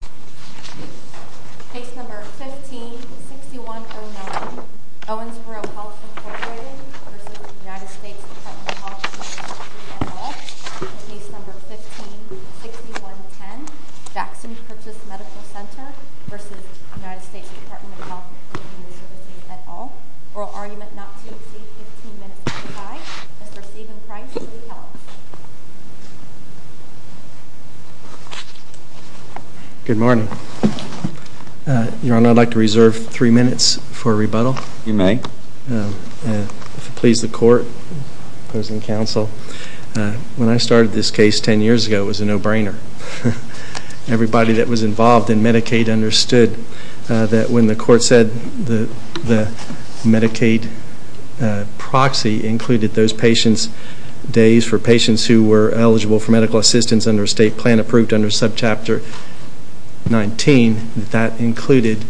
Department of Health and Human Services, et al. Oral argument not to exceed 15 minutes to the time. And for Stephen Price, we help. Good morning. Your Honor, I'd like to reserve three minutes for rebuttal. You may. If it pleases the Court, opposing counsel, when I started this case ten years ago, it was a no-brainer. Everybody that was involved in Medicaid understood that when the Court said the Medicaid proxy included those patients' days for patients who were eligible for medical assistance under state plan approved under Subchapter 19, that that included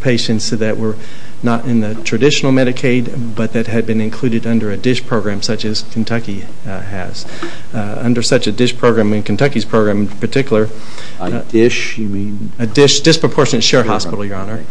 patients that were not in the traditional Medicaid but that had been included under a DISH program such as Kentucky has. Under such a DISH program, and Kentucky's program in particular… A DISH, you mean? A DISH, Disproportionate Share Hospital, Your Honor.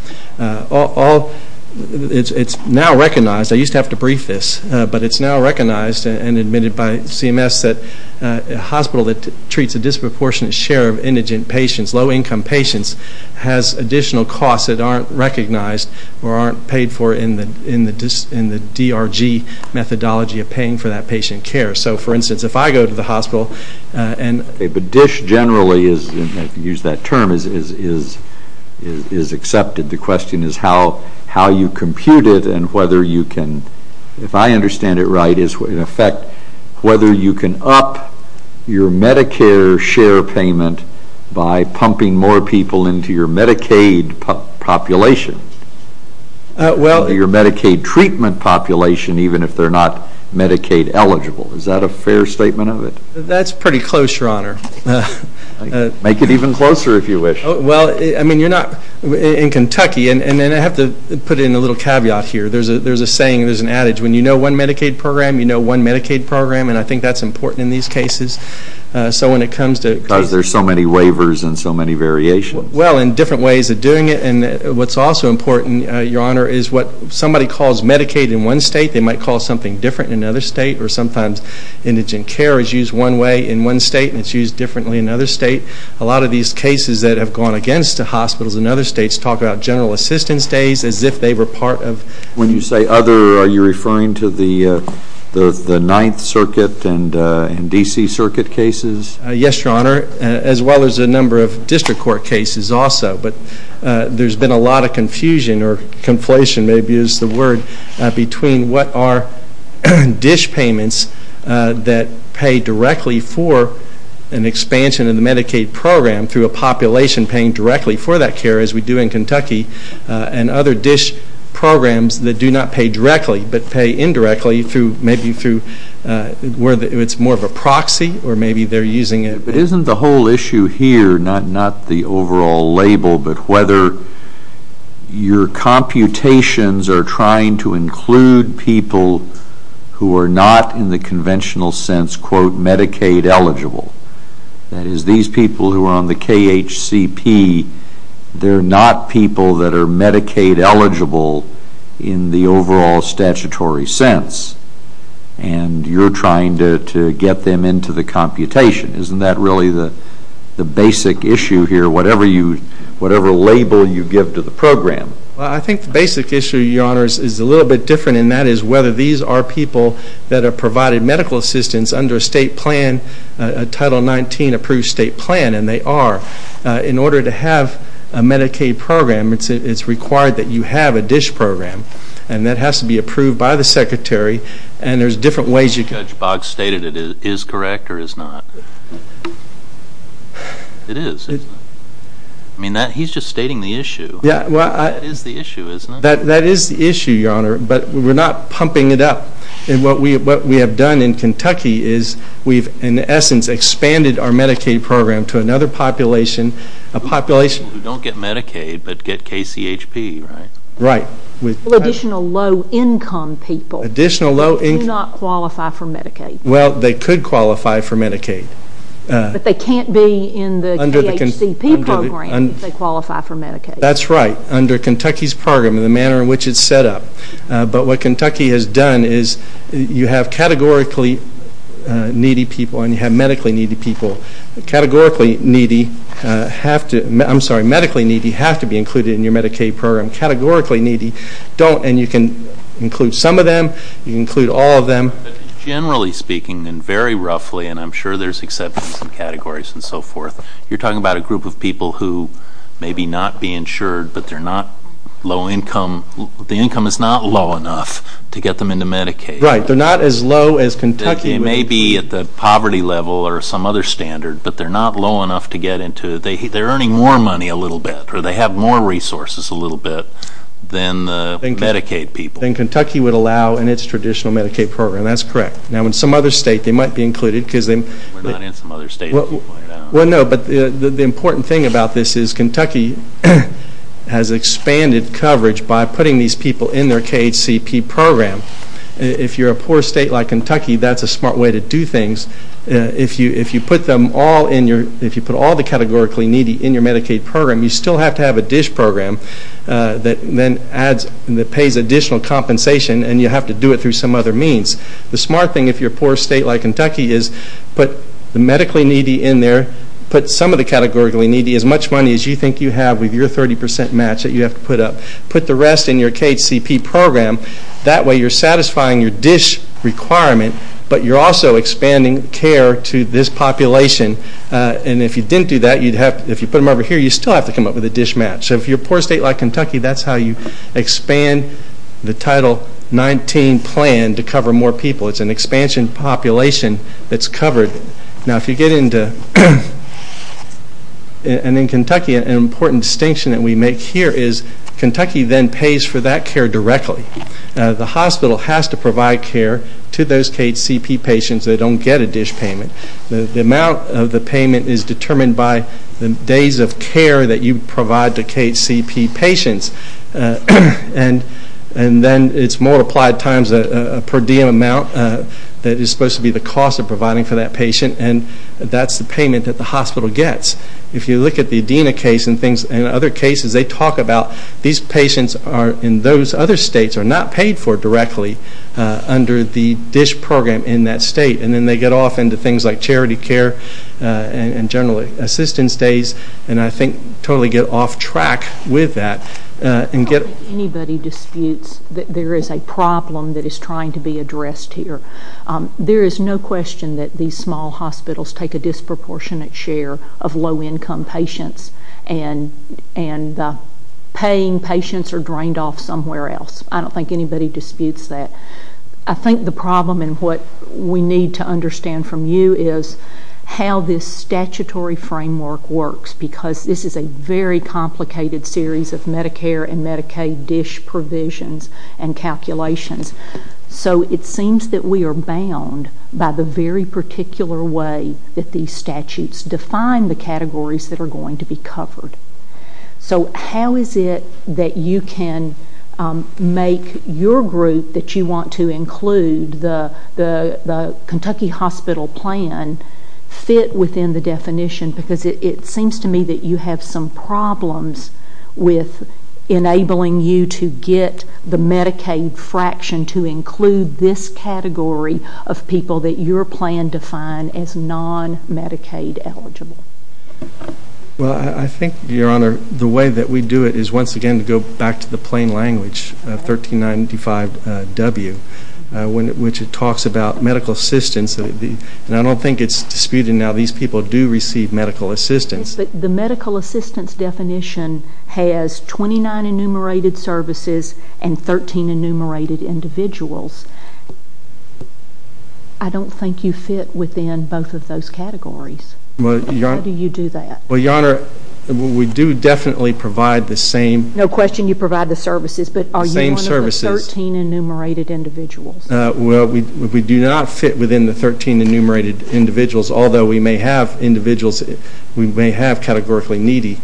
It's now recognized, I used to have to brief this, but it's now recognized and admitted by CMS that a hospital that treats a disproportionate share of indigent patients, low-income patients, has additional costs that aren't recognized or aren't paid for in the DRG methodology of paying for that patient care. So, for instance, if I go to the hospital and… Okay, but DISH generally is, if you use that term, is accepted. The question is how you compute it and whether you can, if I understand it right, is, in effect, whether you can up your Medicare share payment by pumping more people into your Medicaid population, your Medicaid treatment population, even if they're not Medicaid eligible. Is that a fair statement of it? That's pretty close, Your Honor. Make it even closer if you wish. Well, I mean, you're not, in Kentucky, and then I have to put in a little caveat here. There's a saying, there's an adage, when you know one Medicaid program, you know one Medicaid program, and I think that's important in these cases. So when it comes to… Because there's so many waivers and so many variations. Well, and different ways of doing it, and what's also important, Your Honor, is what somebody calls Medicaid in one state, they might call something different in another state, or sometimes indigent care is used one way in one state and it's used differently in another state. A lot of these cases that have gone against the hospitals in other states talk about general assistance days as if they were part of… When you say other, are you referring to the Ninth Circuit and D.C. Circuit cases? Yes, Your Honor, as well as a number of district court cases also. But there's been a lot of confusion, or conflation maybe is the word, between what are dish payments that pay directly for an expansion of the Medicaid program through a population paying directly for that care as we do in Kentucky, and other dish programs that do not pay directly, but pay indirectly through maybe through where it's more of a proxy, or maybe they're using it… But isn't the whole issue here not the overall label, but whether your computations are trying to include people who are not in the conventional sense, quote, Medicaid eligible, that is these people who are on the KHCP, they're not people that are Medicaid eligible in the overall statutory sense, and you're trying to get them into the computation. Isn't that really the basic issue here, whatever label you give to the program? I think the basic issue, Your Honor, is a little bit different, and that is whether these are people that are provided medical assistance under a state plan, a Title XIX approved state plan, and they are. In order to have a Medicaid program, it's required that you have a dish program, and that has to be approved by the Secretary, and there's different ways… Judge Boggs stated it is correct or is not. It is, isn't it? I mean, he's just stating the issue. That is the issue, isn't it? That is the issue, Your Honor, but we're not pumping it up. What we have done in Kentucky is we've, in essence, expanded our Medicaid program to another population, a population… People who don't get Medicaid but get KCHP, right? Right. Additional low income people. Additional low income… Who do not qualify for Medicaid. Well, they could qualify for Medicaid. But they can't be in the KHCP program if they qualify for Medicaid. That's right, under Kentucky's program and the manner in which it's set up, but what Kentucky has done is you have categorically needy people and you have medically needy people. Categorically needy have to, I'm sorry, medically needy have to be included in your Medicaid program. Categorically needy don't, and you can include some of them, you can include all of them. Generally speaking, and very roughly, and I'm sure there's exceptions and categories and so forth, you're talking about a group of people who may be not be insured but they're not low income, the income is not low enough to get them into Medicaid. Right, they're not as low as Kentucky… They may be at the poverty level or some other standard, but they're not low enough to get into it. They're earning more money a little bit, or they have more resources a little bit than the Medicaid people. Then Kentucky would allow in its traditional Medicaid program, that's correct. Now in some other state they might be included because… We're not in some other state to point it out. Well, no, but the important thing about this is Kentucky has expanded coverage by putting these people in their KHCP program. If you're a poor state like Kentucky, that's a smart way to do things. If you put them all in your, if you put all the categorically needy in your Medicaid program, you still have to have a DISH program that then adds, that pays additional compensation and you have to do it through some other means. The smart thing if you're a poor state like Kentucky is put the medically needy in there, put some of the categorically needy, as much money as you think you have with your 30 percent match that you have to put up. Put the rest in your KHCP program. That way you're satisfying your DISH requirement, but you're also expanding care to this population. And if you didn't do that, you'd have, if you put them over here, you'd still have to come up with a DISH match. So if you're a poor state like Kentucky, that's how you expand the Title 19 plan to cover more people. It's an expansion population that's covered. Now if you get into, and in Kentucky an important distinction that we make here is Kentucky then pays for that care directly. The hospital has to provide care to those KHCP patients that don't get a DISH payment. The amount of the payment is determined by the days of care that you get. It's multiplied times a per diem amount that is supposed to be the cost of providing for that patient and that's the payment that the hospital gets. If you look at the Adena case and other cases, they talk about these patients are in those other states are not paid for directly under the DISH program in that state. And then they get off into things like charity care and generally assistance days and I think totally get off track with that. I don't think anybody disputes that there is a problem that is trying to be addressed here. There is no question that these small hospitals take a disproportionate share of low income patients and paying patients are drained off somewhere else. I don't think anybody disputes that. I think the problem and what we need to understand from you is how this statutory framework works because this is a very complicated series of Medicare and Medicaid DISH provisions and calculations. So it seems that we are bound by the very particular way that these statutes define the categories that are going to be covered. So how is it that you can make your group that you want to include, the Kentucky Hospital plan, fit within the definition because it seems to me that you have some problems with enabling you to get the Medicaid fraction to include this category of people that your plan defined as non-Medicaid eligible? Well I think, Your Honor, the way that we do it is once again to go back to the plain language, 1395W, which talks about medical assistance. I don't think it is disputed now that these people do receive medical assistance. The medical assistance definition has 29 enumerated services and 13 enumerated individuals. I don't think you fit within both of those categories. How do you do that? Well, Your Honor, we do definitely provide the same. No question you provide the services, but are you one of the 13 enumerated individuals? We do not fit within the 13 enumerated individuals, although we may have individuals we may have categorically needy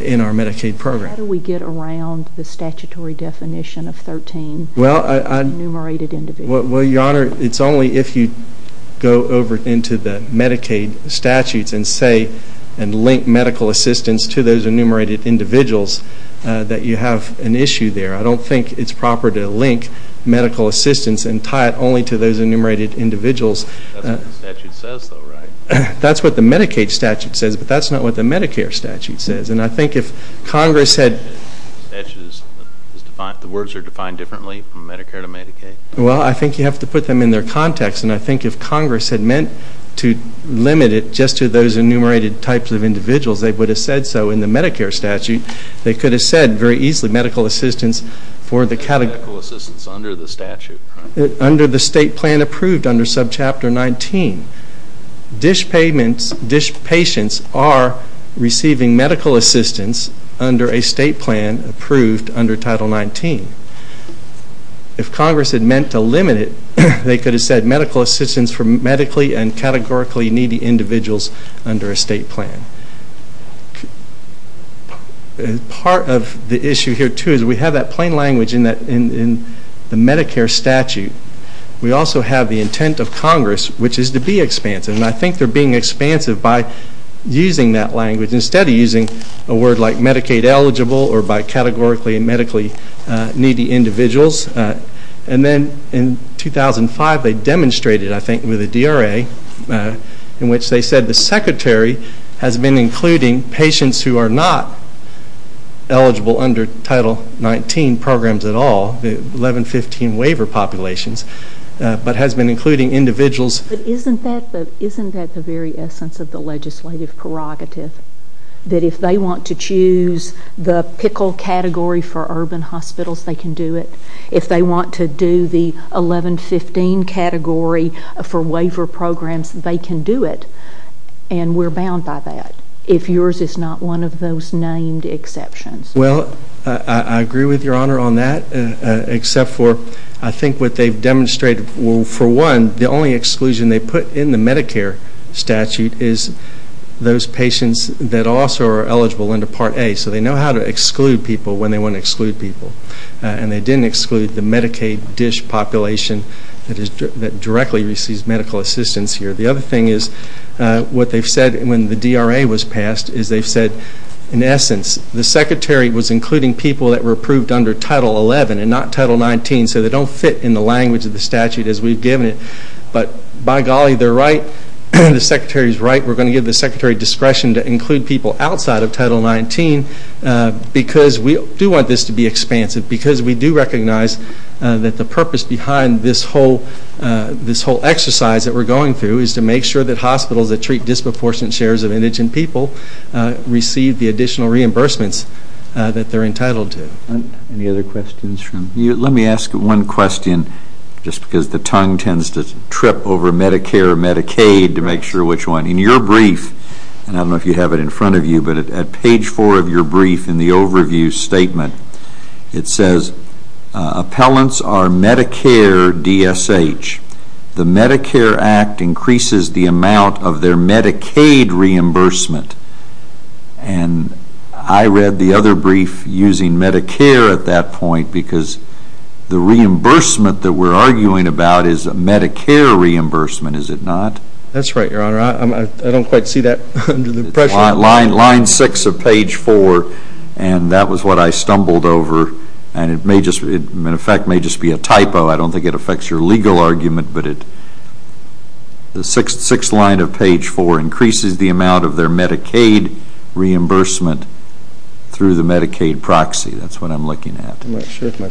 in our Medicaid program. How do we get around the statutory definition of 13 enumerated individuals? Well, Your Honor, it is only if you go over into the Medicaid statutes and link medical assistance to those enumerated individuals that you have an issue there. I don't think it is proper to link medical assistance and tie it only to those enumerated individuals. That is what the statute says, though, right? That is what the Medicaid statute says, but that is not what the Medicare statute says. And I think if Congress had... The words are defined differently from Medicare to Medicaid? Well I think you have to put them in their context. And I think if Congress had meant to limit it just to those enumerated types of individuals, they would have said so in the Medicare statute. They could have said very easily medical assistance for the category... Medical assistance under the statute, right? Under the state plan approved under Subchapter 19. DISH payments, DISH patients are receiving medical assistance under a state plan approved under Title 19. If Congress had meant to limit it, they could have said medical assistance for medically and categorically needy individuals under a state plan. Part of the issue here, too, is we have that plain language in the Medicare statute. We also have the intent of Congress, which is to be expansive. And I think they are being expansive by using that language instead of using a word like Medicaid eligible or by 2005 they demonstrated, I think, with the DRA in which they said the secretary has been including patients who are not eligible under Title 19 programs at all, the 1115 waiver populations, but has been including individuals... But isn't that the very essence of the legislative prerogative? That if they want to choose the 1115 category for waiver programs, they can do it. And we are bound by that, if yours is not one of those named exceptions. Well, I agree with Your Honor on that, except for I think what they have demonstrated, well, for one, the only exclusion they put in the Medicare statute is those patients that also are eligible under Part A. So they know how to exclude people when they want to exclude people. And they didn't exclude the Medicaid dish population that directly receives medical assistance here. The other thing is what they have said when the DRA was passed is they have said, in essence, the secretary was including people that were approved under Title 11 and not Title 19, so they don't fit in the language of the statute as we have given it. But by golly, they are right. The secretary is right. We are going to give the secretary discretion to include people outside of Title 19 because we do want this to be expansive, because we do recognize that the purpose behind this whole exercise that we are going through is to make sure that hospitals that treat disproportionate shares of indigent people receive the additional reimbursements that they are entitled to. Any other questions? Let me ask one question, just because the tongue tends to trip over front of you, but at page 4 of your brief, in the overview statement, it says appellants are Medicare DSH. The Medicare Act increases the amount of their Medicaid reimbursement. And I read the other brief using Medicare at that point because the reimbursement that we are arguing about is a Medicare reimbursement, is it not? That's right, Your Honor. I don't quite see that under the pressure. Line 6 of page 4, and that was what I stumbled over, and it may just, in effect, may just be a typo. I don't think it affects your legal argument, but the sixth line of page 4 increases the amount of their Medicaid reimbursement through the Medicaid proxy. That's what I'm looking at. I'm not sure if my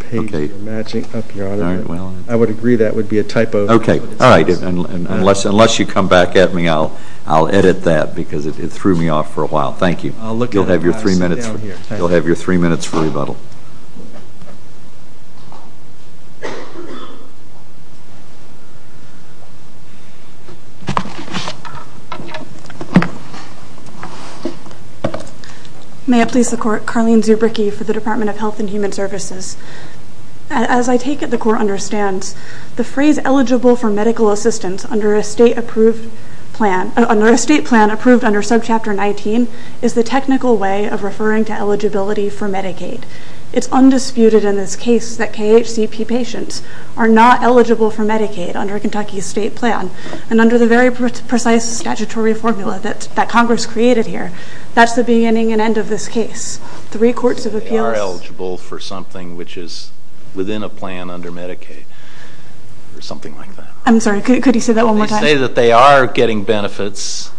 page is matching up, Your Honor. I would agree that would be a typo. Okay. All right. Unless you come back at me, I'll edit that because it threw me off for a while. Thank you. I'll look at it and pass it down here. You'll have your three minutes for rebuttal. May it please the Court. Carleen Zubricki for the Department of Health and Human Services. As I take it, the Court understands the phrase eligible for medical assistance under a state plan approved under subchapter 19 is the technical way of referring to eligibility for Medicaid. It's undisputed in this case that KHCP patients are not eligible for Medicaid under Kentucky's state plan and under the very precise statutory formula that Congress created here. That's the beginning and end of this case. Three courts of appeals are eligible for something which is within a plan under Medicaid or something like that. I'm sorry. Could you say that one more time? They say that they are getting benefits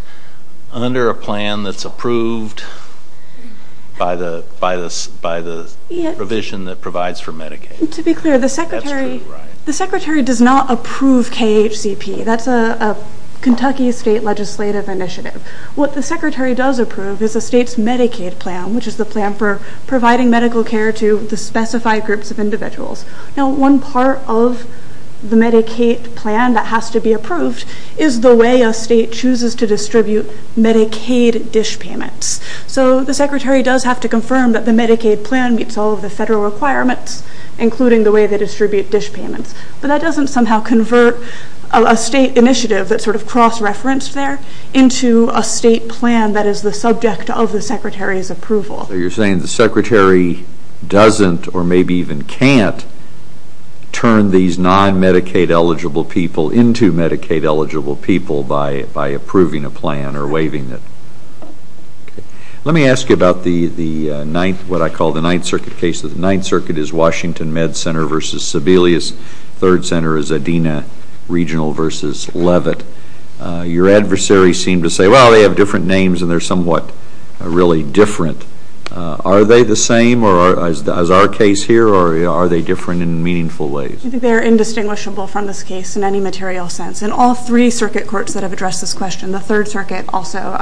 under a plan that's approved by the provision that provides for Medicaid. To be clear, the Secretary does not approve KHCP. That's a Kentucky state legislative initiative. What the Secretary does approve is the state's Medicaid plan, which is the care to the specified groups of individuals. One part of the Medicaid plan that has to be approved is the way a state chooses to distribute Medicaid dish payments. The Secretary does have to confirm that the Medicaid plan meets all of the federal requirements, including the way they distribute dish payments. That doesn't somehow convert a state initiative that's sort of cross-referenced there into a state plan that is the subject of the Secretary's approval. So you're saying the Secretary doesn't or maybe even can't turn these non-Medicaid-eligible people into Medicaid-eligible people by approving a plan or waiving it. Let me ask you about what I call the Ninth Circuit case. The Ninth Circuit is Washington Med Center v. Sebelius. Third Center is Adena Regional v. Levitt. Your adversaries seem to say, well, they have different names and they're somewhat really different. Are they the same as our case here, or are they different in meaningful ways? I think they're indistinguishable from this case in any material sense. In all three circuit courts that have addressed this question, the Third Circuit also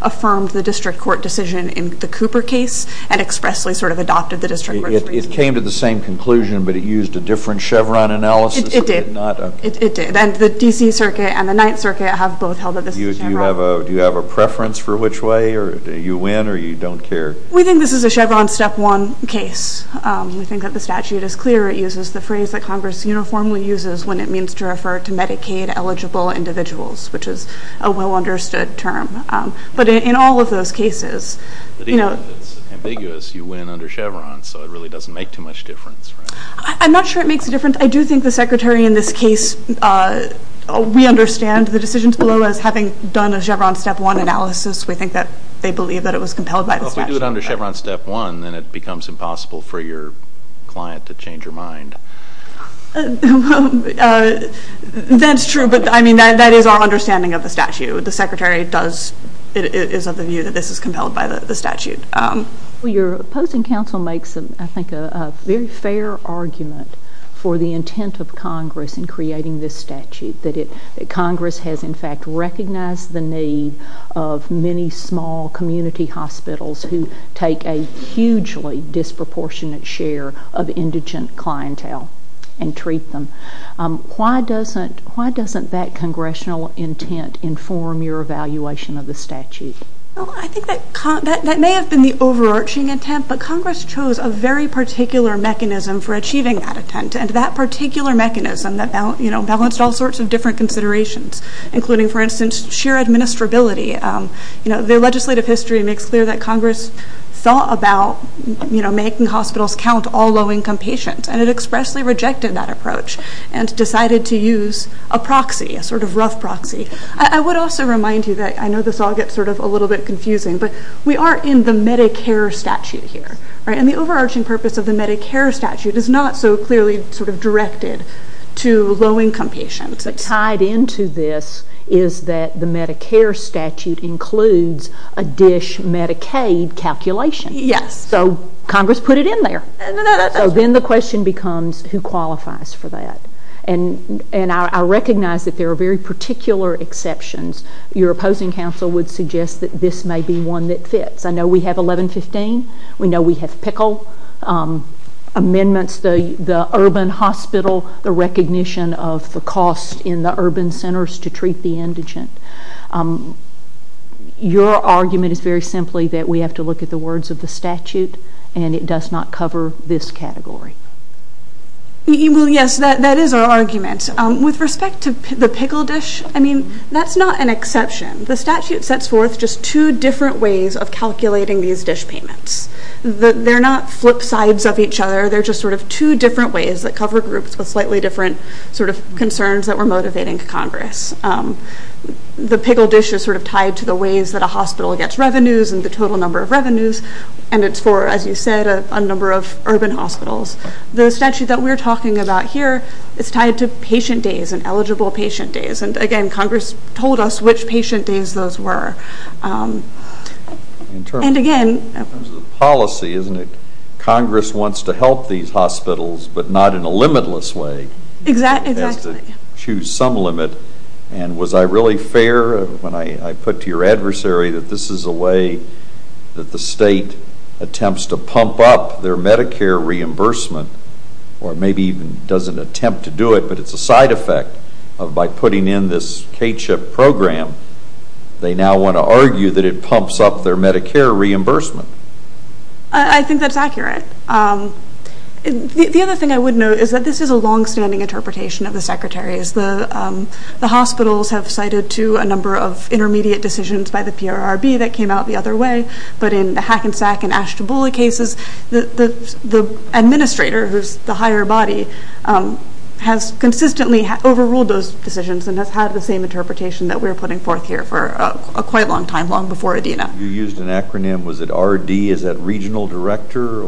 affirmed the district court decision in the Cooper case and expressly sort of adopted the district registry. It came to the same conclusion, but it used a different Chevron analysis. It did. It did. And the D.C. Circuit and the Ninth Circuit have both held that this is Do you have a preference for which way? Do you win or you don't care? We think this is a Chevron step one case. We think that the statute is clear. It uses the phrase that Congress uniformly uses when it means to refer to Medicaid-eligible individuals, which is a well-understood term. But in all of those cases, you know But even if it's ambiguous, you win under Chevron, so it really doesn't make too much difference, right? I'm not sure it makes a difference. I do think the Secretary in this case, we understand the decisions below as having done a Chevron step one analysis. We think that they believe that it was compelled by the statute. Well, if we do it under Chevron step one, then it becomes impossible for your client to change her mind. That's true, but I mean, that is our understanding of the statute. The Secretary does, is of the view that this is compelled by the statute. Your opposing counsel makes, I think, a very fair argument for the intent of Congress in that Congress has, in fact, recognized the need of many small community hospitals who take a hugely disproportionate share of indigent clientele and treat them. Why doesn't that congressional intent inform your evaluation of the statute? Well, I think that may have been the overarching intent, but Congress chose a very particular mechanism for achieving that intent, and that particular mechanism, you know, balanced all sorts of different considerations, including, for instance, sheer administrability. You know, their legislative history makes clear that Congress thought about, you know, making hospitals count all low-income patients, and it expressly rejected that approach and decided to use a proxy, a sort of rough proxy. I would also remind you that, I know this all gets sort of a little bit confusing, but we are in the Medicare statute here, right? And the overarching purpose of the Medicare low-income patients that's tied into this is that the Medicare statute includes a DISH Medicaid calculation. Yes. So Congress put it in there. No, no, no. So then the question becomes, who qualifies for that? And I recognize that there are very particular exceptions. Your opposing counsel would suggest that this may be one that fits. I know we have 1115. We know we have PICL amendments, the urban hospital, the recognition of the cost in the urban centers to treat the indigent. Your argument is very simply that we have to look at the words of the statute, and it does not cover this category. Well, yes, that is our argument. With respect to the PICL DISH, I mean, that's not an exception. The statute sets forth just two different ways of calculating these DISH payments. They're not flip sides of each other. They're just sort of two different ways that cover groups with slightly different sort of concerns that were motivating Congress. The PICL DISH is sort of tied to the ways that a hospital gets revenues and the total number of revenues, and it's for, as you said, a number of urban hospitals. The statute that we're talking about here, it's tied to patient days and eligible patient days. And again, Congress told us which patient days those were. In terms of policy, isn't it, Congress wants to help these hospitals, but not in a limitless way. Exactly. It has to choose some limit. And was I really fair when I put to your adversary that this is a way that the state attempts to pump up their Medicare reimbursement, or maybe even doesn't attempt to do it, but it's a side effect of by putting in this K-CHIP program, they now want to argue that it pumps up their Medicare reimbursement? I think that's accurate. The other thing I would note is that this is a longstanding interpretation of the Secretary's. The hospitals have cited to a number of intermediate decisions by the PRRB that came out the other way, but in the Hackensack and Ashtabula cases, the administrator, who's the higher body, has consistently overruled those decisions and has had the same interpretation that we're putting forth here for a quite long time, long before ADENA. You used an acronym. Was it RD? Is that Regional Director?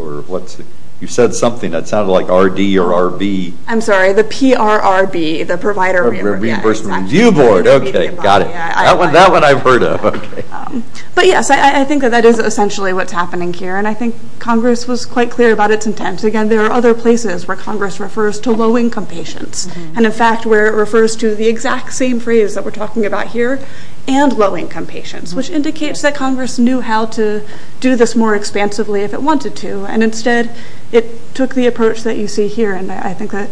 You said something that sounded like RD or RB. I'm sorry, the PRRB, the Provider Reimbursement Review Board. Reimbursement Review Board. Okay, got it. That one I've heard of. But yes, I think that that is essentially what's happening here, and I think Congress was quite clear about its intent. Again, there are other places where Congress refers to low-income patients, and in fact, where it refers to the exact same phrase that we're Congress knew how to do this more expansively if it wanted to, and instead, it took the approach that you see here, and I think that...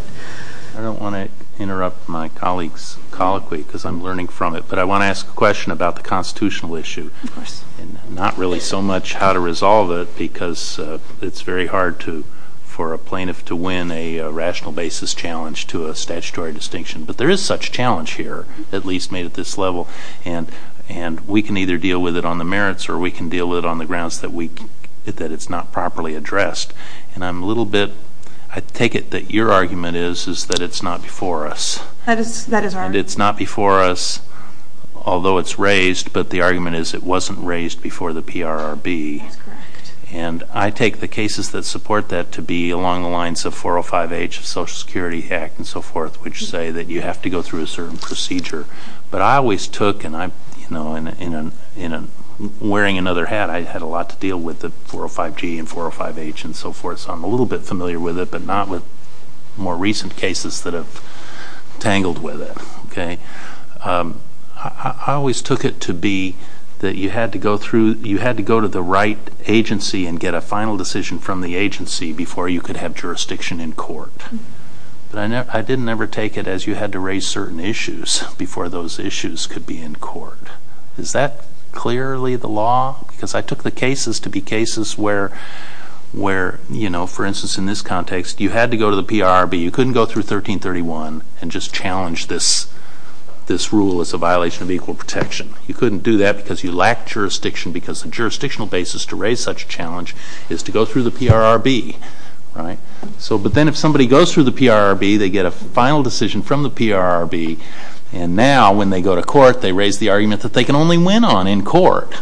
I don't want to interrupt my colleague's colloquy, because I'm learning from it, but I want to ask a question about the constitutional issue, and not really so much how to resolve it, because it's very hard for a plaintiff to win a rational basis challenge to a statutory distinction. But there is such challenge here, at least made at this level, and we can either deal with it on the merits, or we can deal with it on the grounds that it's not properly addressed. And I'm a little bit... I take it that your argument is that it's not before us, and it's not before us, although it's raised, but the argument is it wasn't raised before the PRRB. And I take the cases that support that to be along the lines of 405H, Social Security Act, and so forth, which say that you have to go through a certain procedure. But I always took, and I'm, you know, wearing another hat, I had a lot to deal with the 405G and 405H and so forth, so I'm a little bit familiar with it, but not with more recent cases that have tangled with it, okay? I always took it to be that you had to go through, you had to go to the right agency and get a final decision from the agency before you could have jurisdiction in court. But I didn't ever take it as you had to raise certain issues before those issues could be in court. Is that clearly the law? Because I took the cases to be cases where, you know, for instance in this context, you had to go to the PRRB, you couldn't go through 1331 and just challenge this rule as a violation of equal protection. You couldn't do that because you lacked jurisdiction, because the jurisdictional basis to raise such a challenge is to go through the PRRB, right? So, but then if somebody goes through the PRRB, they get a final decision from the PRRB, and now when they go to court, they raise the argument that they can only win on in court,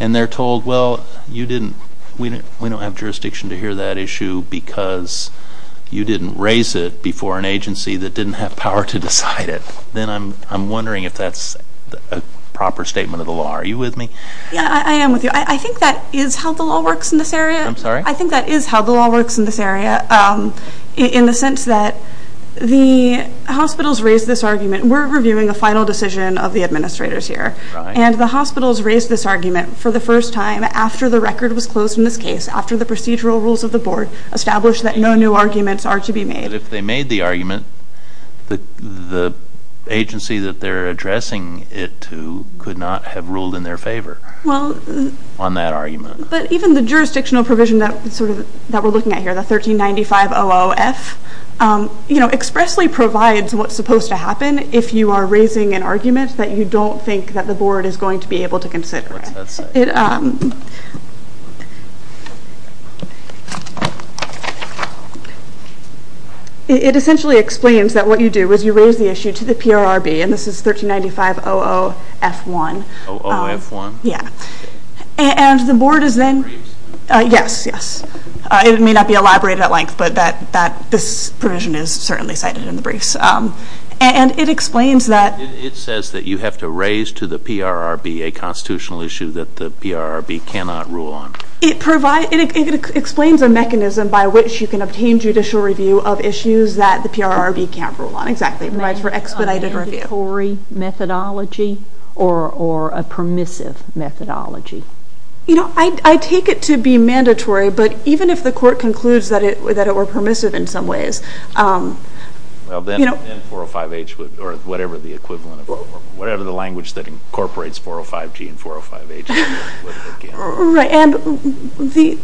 and they're told, well, you didn't, we don't have jurisdiction to hear that issue because you didn't raise it before an agency that didn't have power to decide it. Then I'm wondering if that's a proper statement of the law. Are you with me? Yeah, I am with you. I think that is how the law works in this area. I'm sorry? The hospitals raised this argument. We're reviewing a final decision of the administrators here, and the hospitals raised this argument for the first time after the record was closed in this case, after the procedural rules of the board established that no new arguments are to be made. But if they made the argument, the agency that they're addressing it to could not have ruled in their favor on that argument. But even the jurisdictional provision that we're looking at here, the 1395-00-F, expressly provides what's supposed to happen if you are raising an argument that you don't think that the board is going to be able to consider. What's that say? It essentially explains that what you do is you raise the issue to the PRRB, and this is 1395-00-F1. It may not be elaborated at length, but this provision is certainly cited in the briefs. It says that you have to raise to the PRRB a constitutional issue that the PRRB cannot rule on. It explains a mechanism by which you can obtain judicial review of issues that the PRRB can't rule on. Is that a mandatory methodology or a permissive methodology? You know, I take it to be mandatory, but even if the court concludes that it were permissive in some ways, you know... Well, then 405-H would, or whatever the equivalent of, whatever the language that incorporates 405-G and 405-H would look in. Right. And the,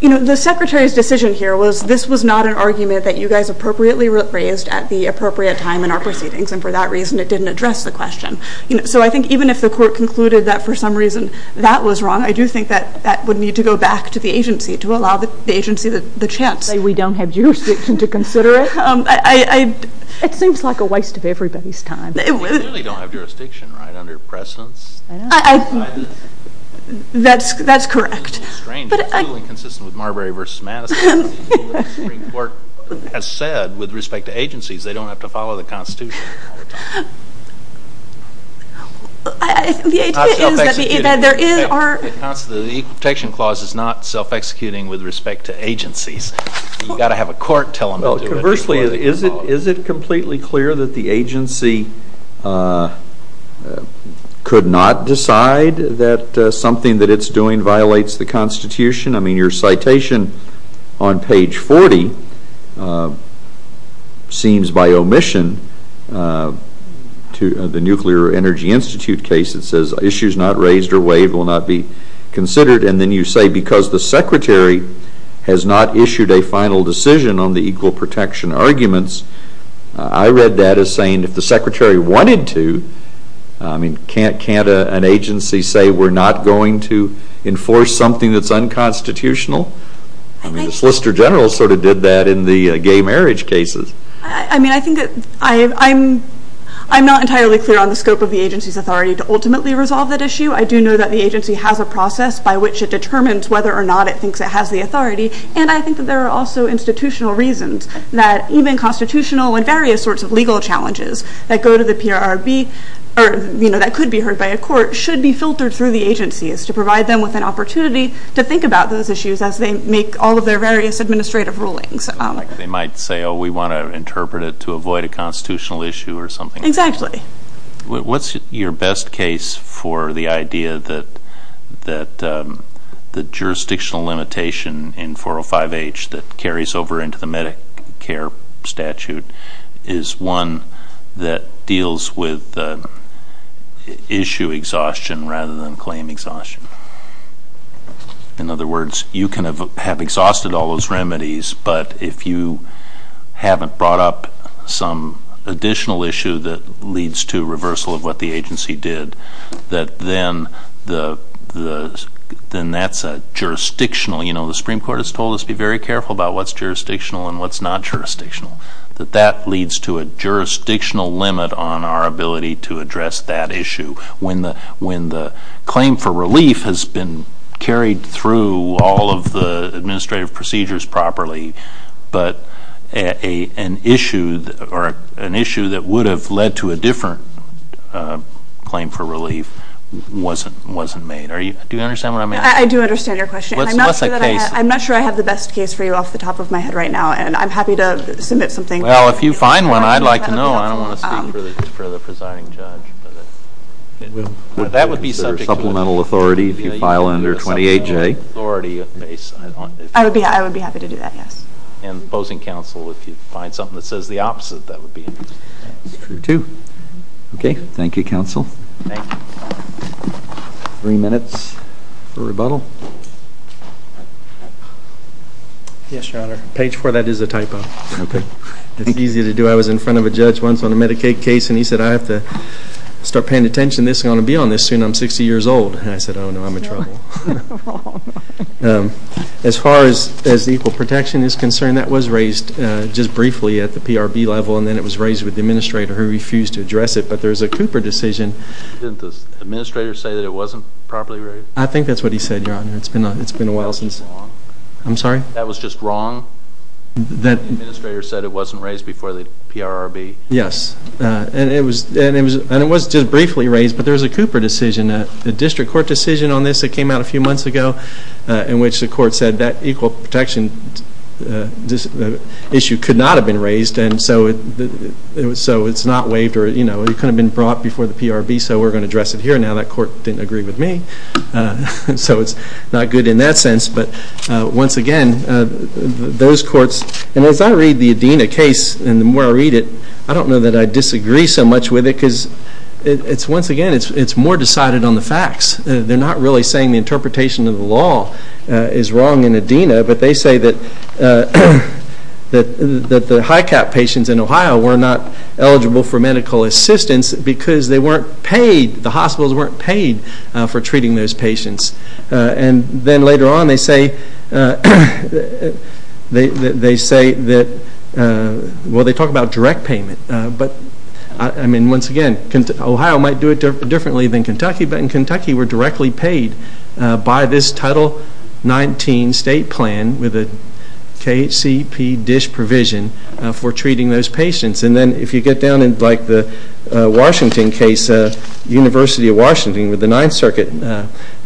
you know, the Secretary's decision here was this was not an argument that you guys appropriately raised at the appropriate time in our proceedings, and for that reason it didn't address the question. So I think even if the court concluded that for some reason that was wrong, I do think that that would need to go back to the agency to allow the agency the chance. We don't have jurisdiction to consider it? It seems like a waste of everybody's time. We really don't have jurisdiction, right, under precedence? That's correct. It's strange. It's totally consistent with Marbury v. Madison. The Supreme Court has said with respect to law, the Constitution... The Equal Protection Clause is not self-executing with respect to agencies. You've got to have a court tell them to do it. Well, conversely, is it completely clear that the agency could not decide that something that it's doing violates the Constitution? I mean, your citation on page 40 seems by omission to the Nuclear Energy Institute case, it says, issues not raised or waived will not be considered, and then you say because the Secretary has not issued a final decision on the equal protection arguments, I read that as saying if the Secretary wanted to, I mean, can't an agency say we're not going to enforce something that's unconstitutional? I mean, the Solicitor General sort of did that in the gay marriage cases. I mean, I think that I'm not entirely clear on the scope of the agency's authority to ultimately resolve that issue. I do know that the agency has a process by which it determines whether or not it thinks it has the authority, and I think that there are also institutional reasons that even constitutional and various sorts of legal challenges that go to the PRRB, or, you know, that could be heard by a court, should be filtered through the agencies to provide them with an opportunity to think about those issues as they make all of their various administrative rulings. It's not like they might say, oh, we want to interpret it to avoid a constitutional issue or something like that. Exactly. What's your best case for the idea that the jurisdictional limitation in 405H that carries over into the Medicare statute is one that deals with issue exhaustion rather than claim exhaustion? In other words, you can have exhausted all those remedies, but if you haven't brought up some additional issue that leads to reversal of what the agency did, that then that's a jurisdictional, you know, the Supreme Court has told us to be very careful about what's jurisdictional and what's not jurisdictional, that that leads to a jurisdictional limit on our ability to address that issue when the claim for relief has been carried through all of the administrative procedures properly, but an issue that would have led to a different claim for relief wasn't made. Do you understand what I mean? I do understand your question. What's the case? I'm not sure I have the best case for you off the top of my head right now and I'm happy to submit something. Well, if you find one, I'd like to know. I don't want to speak for the presiding judge. That would be subject to a supplemental authority if you file under 28J. I would be happy to do that, yes. And opposing counsel, if you find something that says the opposite, that would be. True, too. Okay. Thank you, counsel. Thank you. Three minutes for rebuttal. Yes, Your Honor. Page four of that is a typo. Okay. It's easy to do. I was in front of a judge once on a Medicaid case and he said, I have to start paying attention. This is going to be on this soon. I'm 60 years old. And I said, oh, no, I'm in trouble. As far as equal protection is concerned, that was raised just briefly at the PRB level and then it was raised with the administrator who refused to address it, but there's a Cooper decision. Didn't the administrator say that it wasn't properly raised? I think that's what he said, Your Honor. It's been a while since. That was wrong. I'm sorry? That was just wrong? The administrator said it wasn't raised before the PRB? Yes. And it was just briefly raised, but there was a Cooper decision, a district court decision on this that came out a few months ago in which the court said that equal protection issue could not have been raised and so it's not waived or it could have been brought before the PRB, so we're going to address it here. Now that court didn't agree with me, so it's not good in that sense. But once again, those courts, and as I read the Adena case and the more I read it, I don't know that I disagree so much with it because it's once again, it's more decided on the facts. They're not really saying the interpretation of the law is wrong in Adena, but they say that the HICAP patients in Ohio were not eligible for medical assistance because they weren't paid, the hospitals weren't paid for treating those patients. And then later on, they say that, well, they talk about direct payment, but I mean, once again, Ohio might do it differently than Kentucky, but in Kentucky, we're directly paid by this Title 19 state plan with a KHCP dish provision for treating those patients. And then if you get down in like the Washington case, University of Washington with the Ninth District,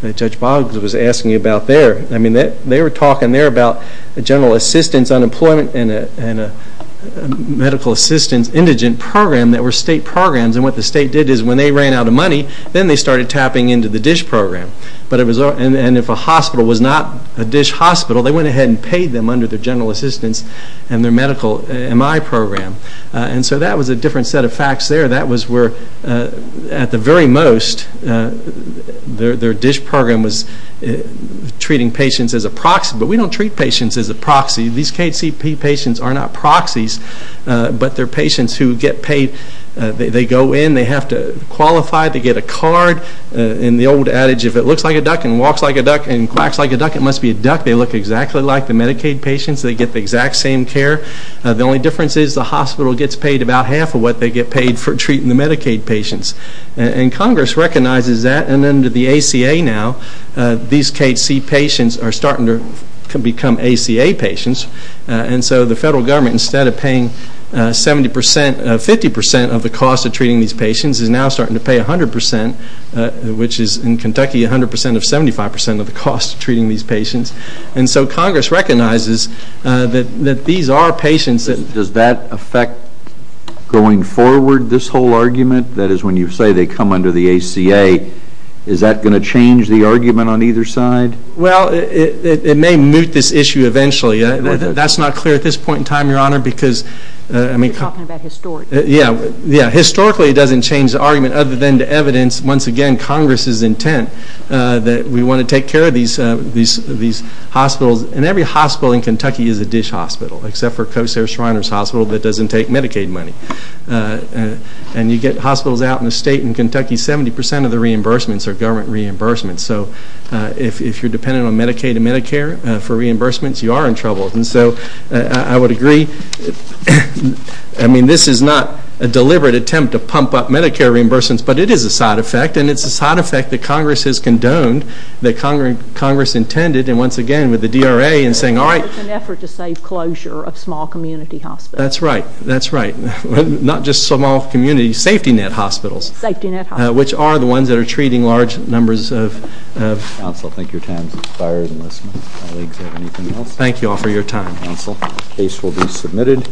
which Boggs was asking about there, I mean, they were talking there about a general assistance unemployment and a medical assistance indigent program that were state programs and what the state did is when they ran out of money, then they started tapping into the dish program. But it was, and if a hospital was not a dish hospital, they went ahead and paid them under their general assistance and their medical MI program. And so that was a different set of facts there. That was where, at the very most, their dish program was treating patients as a proxy, but we don't treat patients as a proxy. These KHCP patients are not proxies, but they're patients who get paid. They go in, they have to qualify to get a card, and the old adage, if it looks like a duck and walks like a duck and quacks like a duck, it must be a duck. They look exactly like the Medicaid patients. They get the exact same care. The only difference is the hospital gets paid about half of what they get paid for treating the Medicaid patients. And Congress recognizes that, and under the ACA now, these KHCP patients are starting to become ACA patients. And so the federal government, instead of paying 70 percent, 50 percent of the cost of treating these patients, is now starting to pay 100 percent, which is, in Kentucky, 100 percent of 75 percent of the cost of treating these patients. And so Congress recognizes that these are patients that... Does that affect, going forward, this whole argument? That is, when you say they come under the ACA, is that going to change the argument on either side? Well, it may moot this issue eventually. That's not clear at this point in time, Your Honor, because... You're talking about historically. Yeah. Historically, it doesn't change the argument, other than to evidence, once again, Congress's And every hospital in Kentucky is a dish hospital, except for Kosair Shriners Hospital that doesn't take Medicaid money. And you get hospitals out in the state, in Kentucky, 70 percent of the reimbursements are government reimbursements. So if you're dependent on Medicaid and Medicare for reimbursements, you are in trouble. And so I would agree, I mean, this is not a deliberate attempt to pump up Medicare reimbursements, but it is a side effect, and it's a side effect that Congress has condoned, that Congress intended, and once again, with the DRA, in saying, all right... It's an effort to save closure of small community hospitals. That's right. That's right. Not just small community, safety net hospitals, which are the ones that are treating large numbers of... Counsel, I think your time has expired, unless my colleagues have anything else. Thank you all for your time. Counsel, the case will be submitted.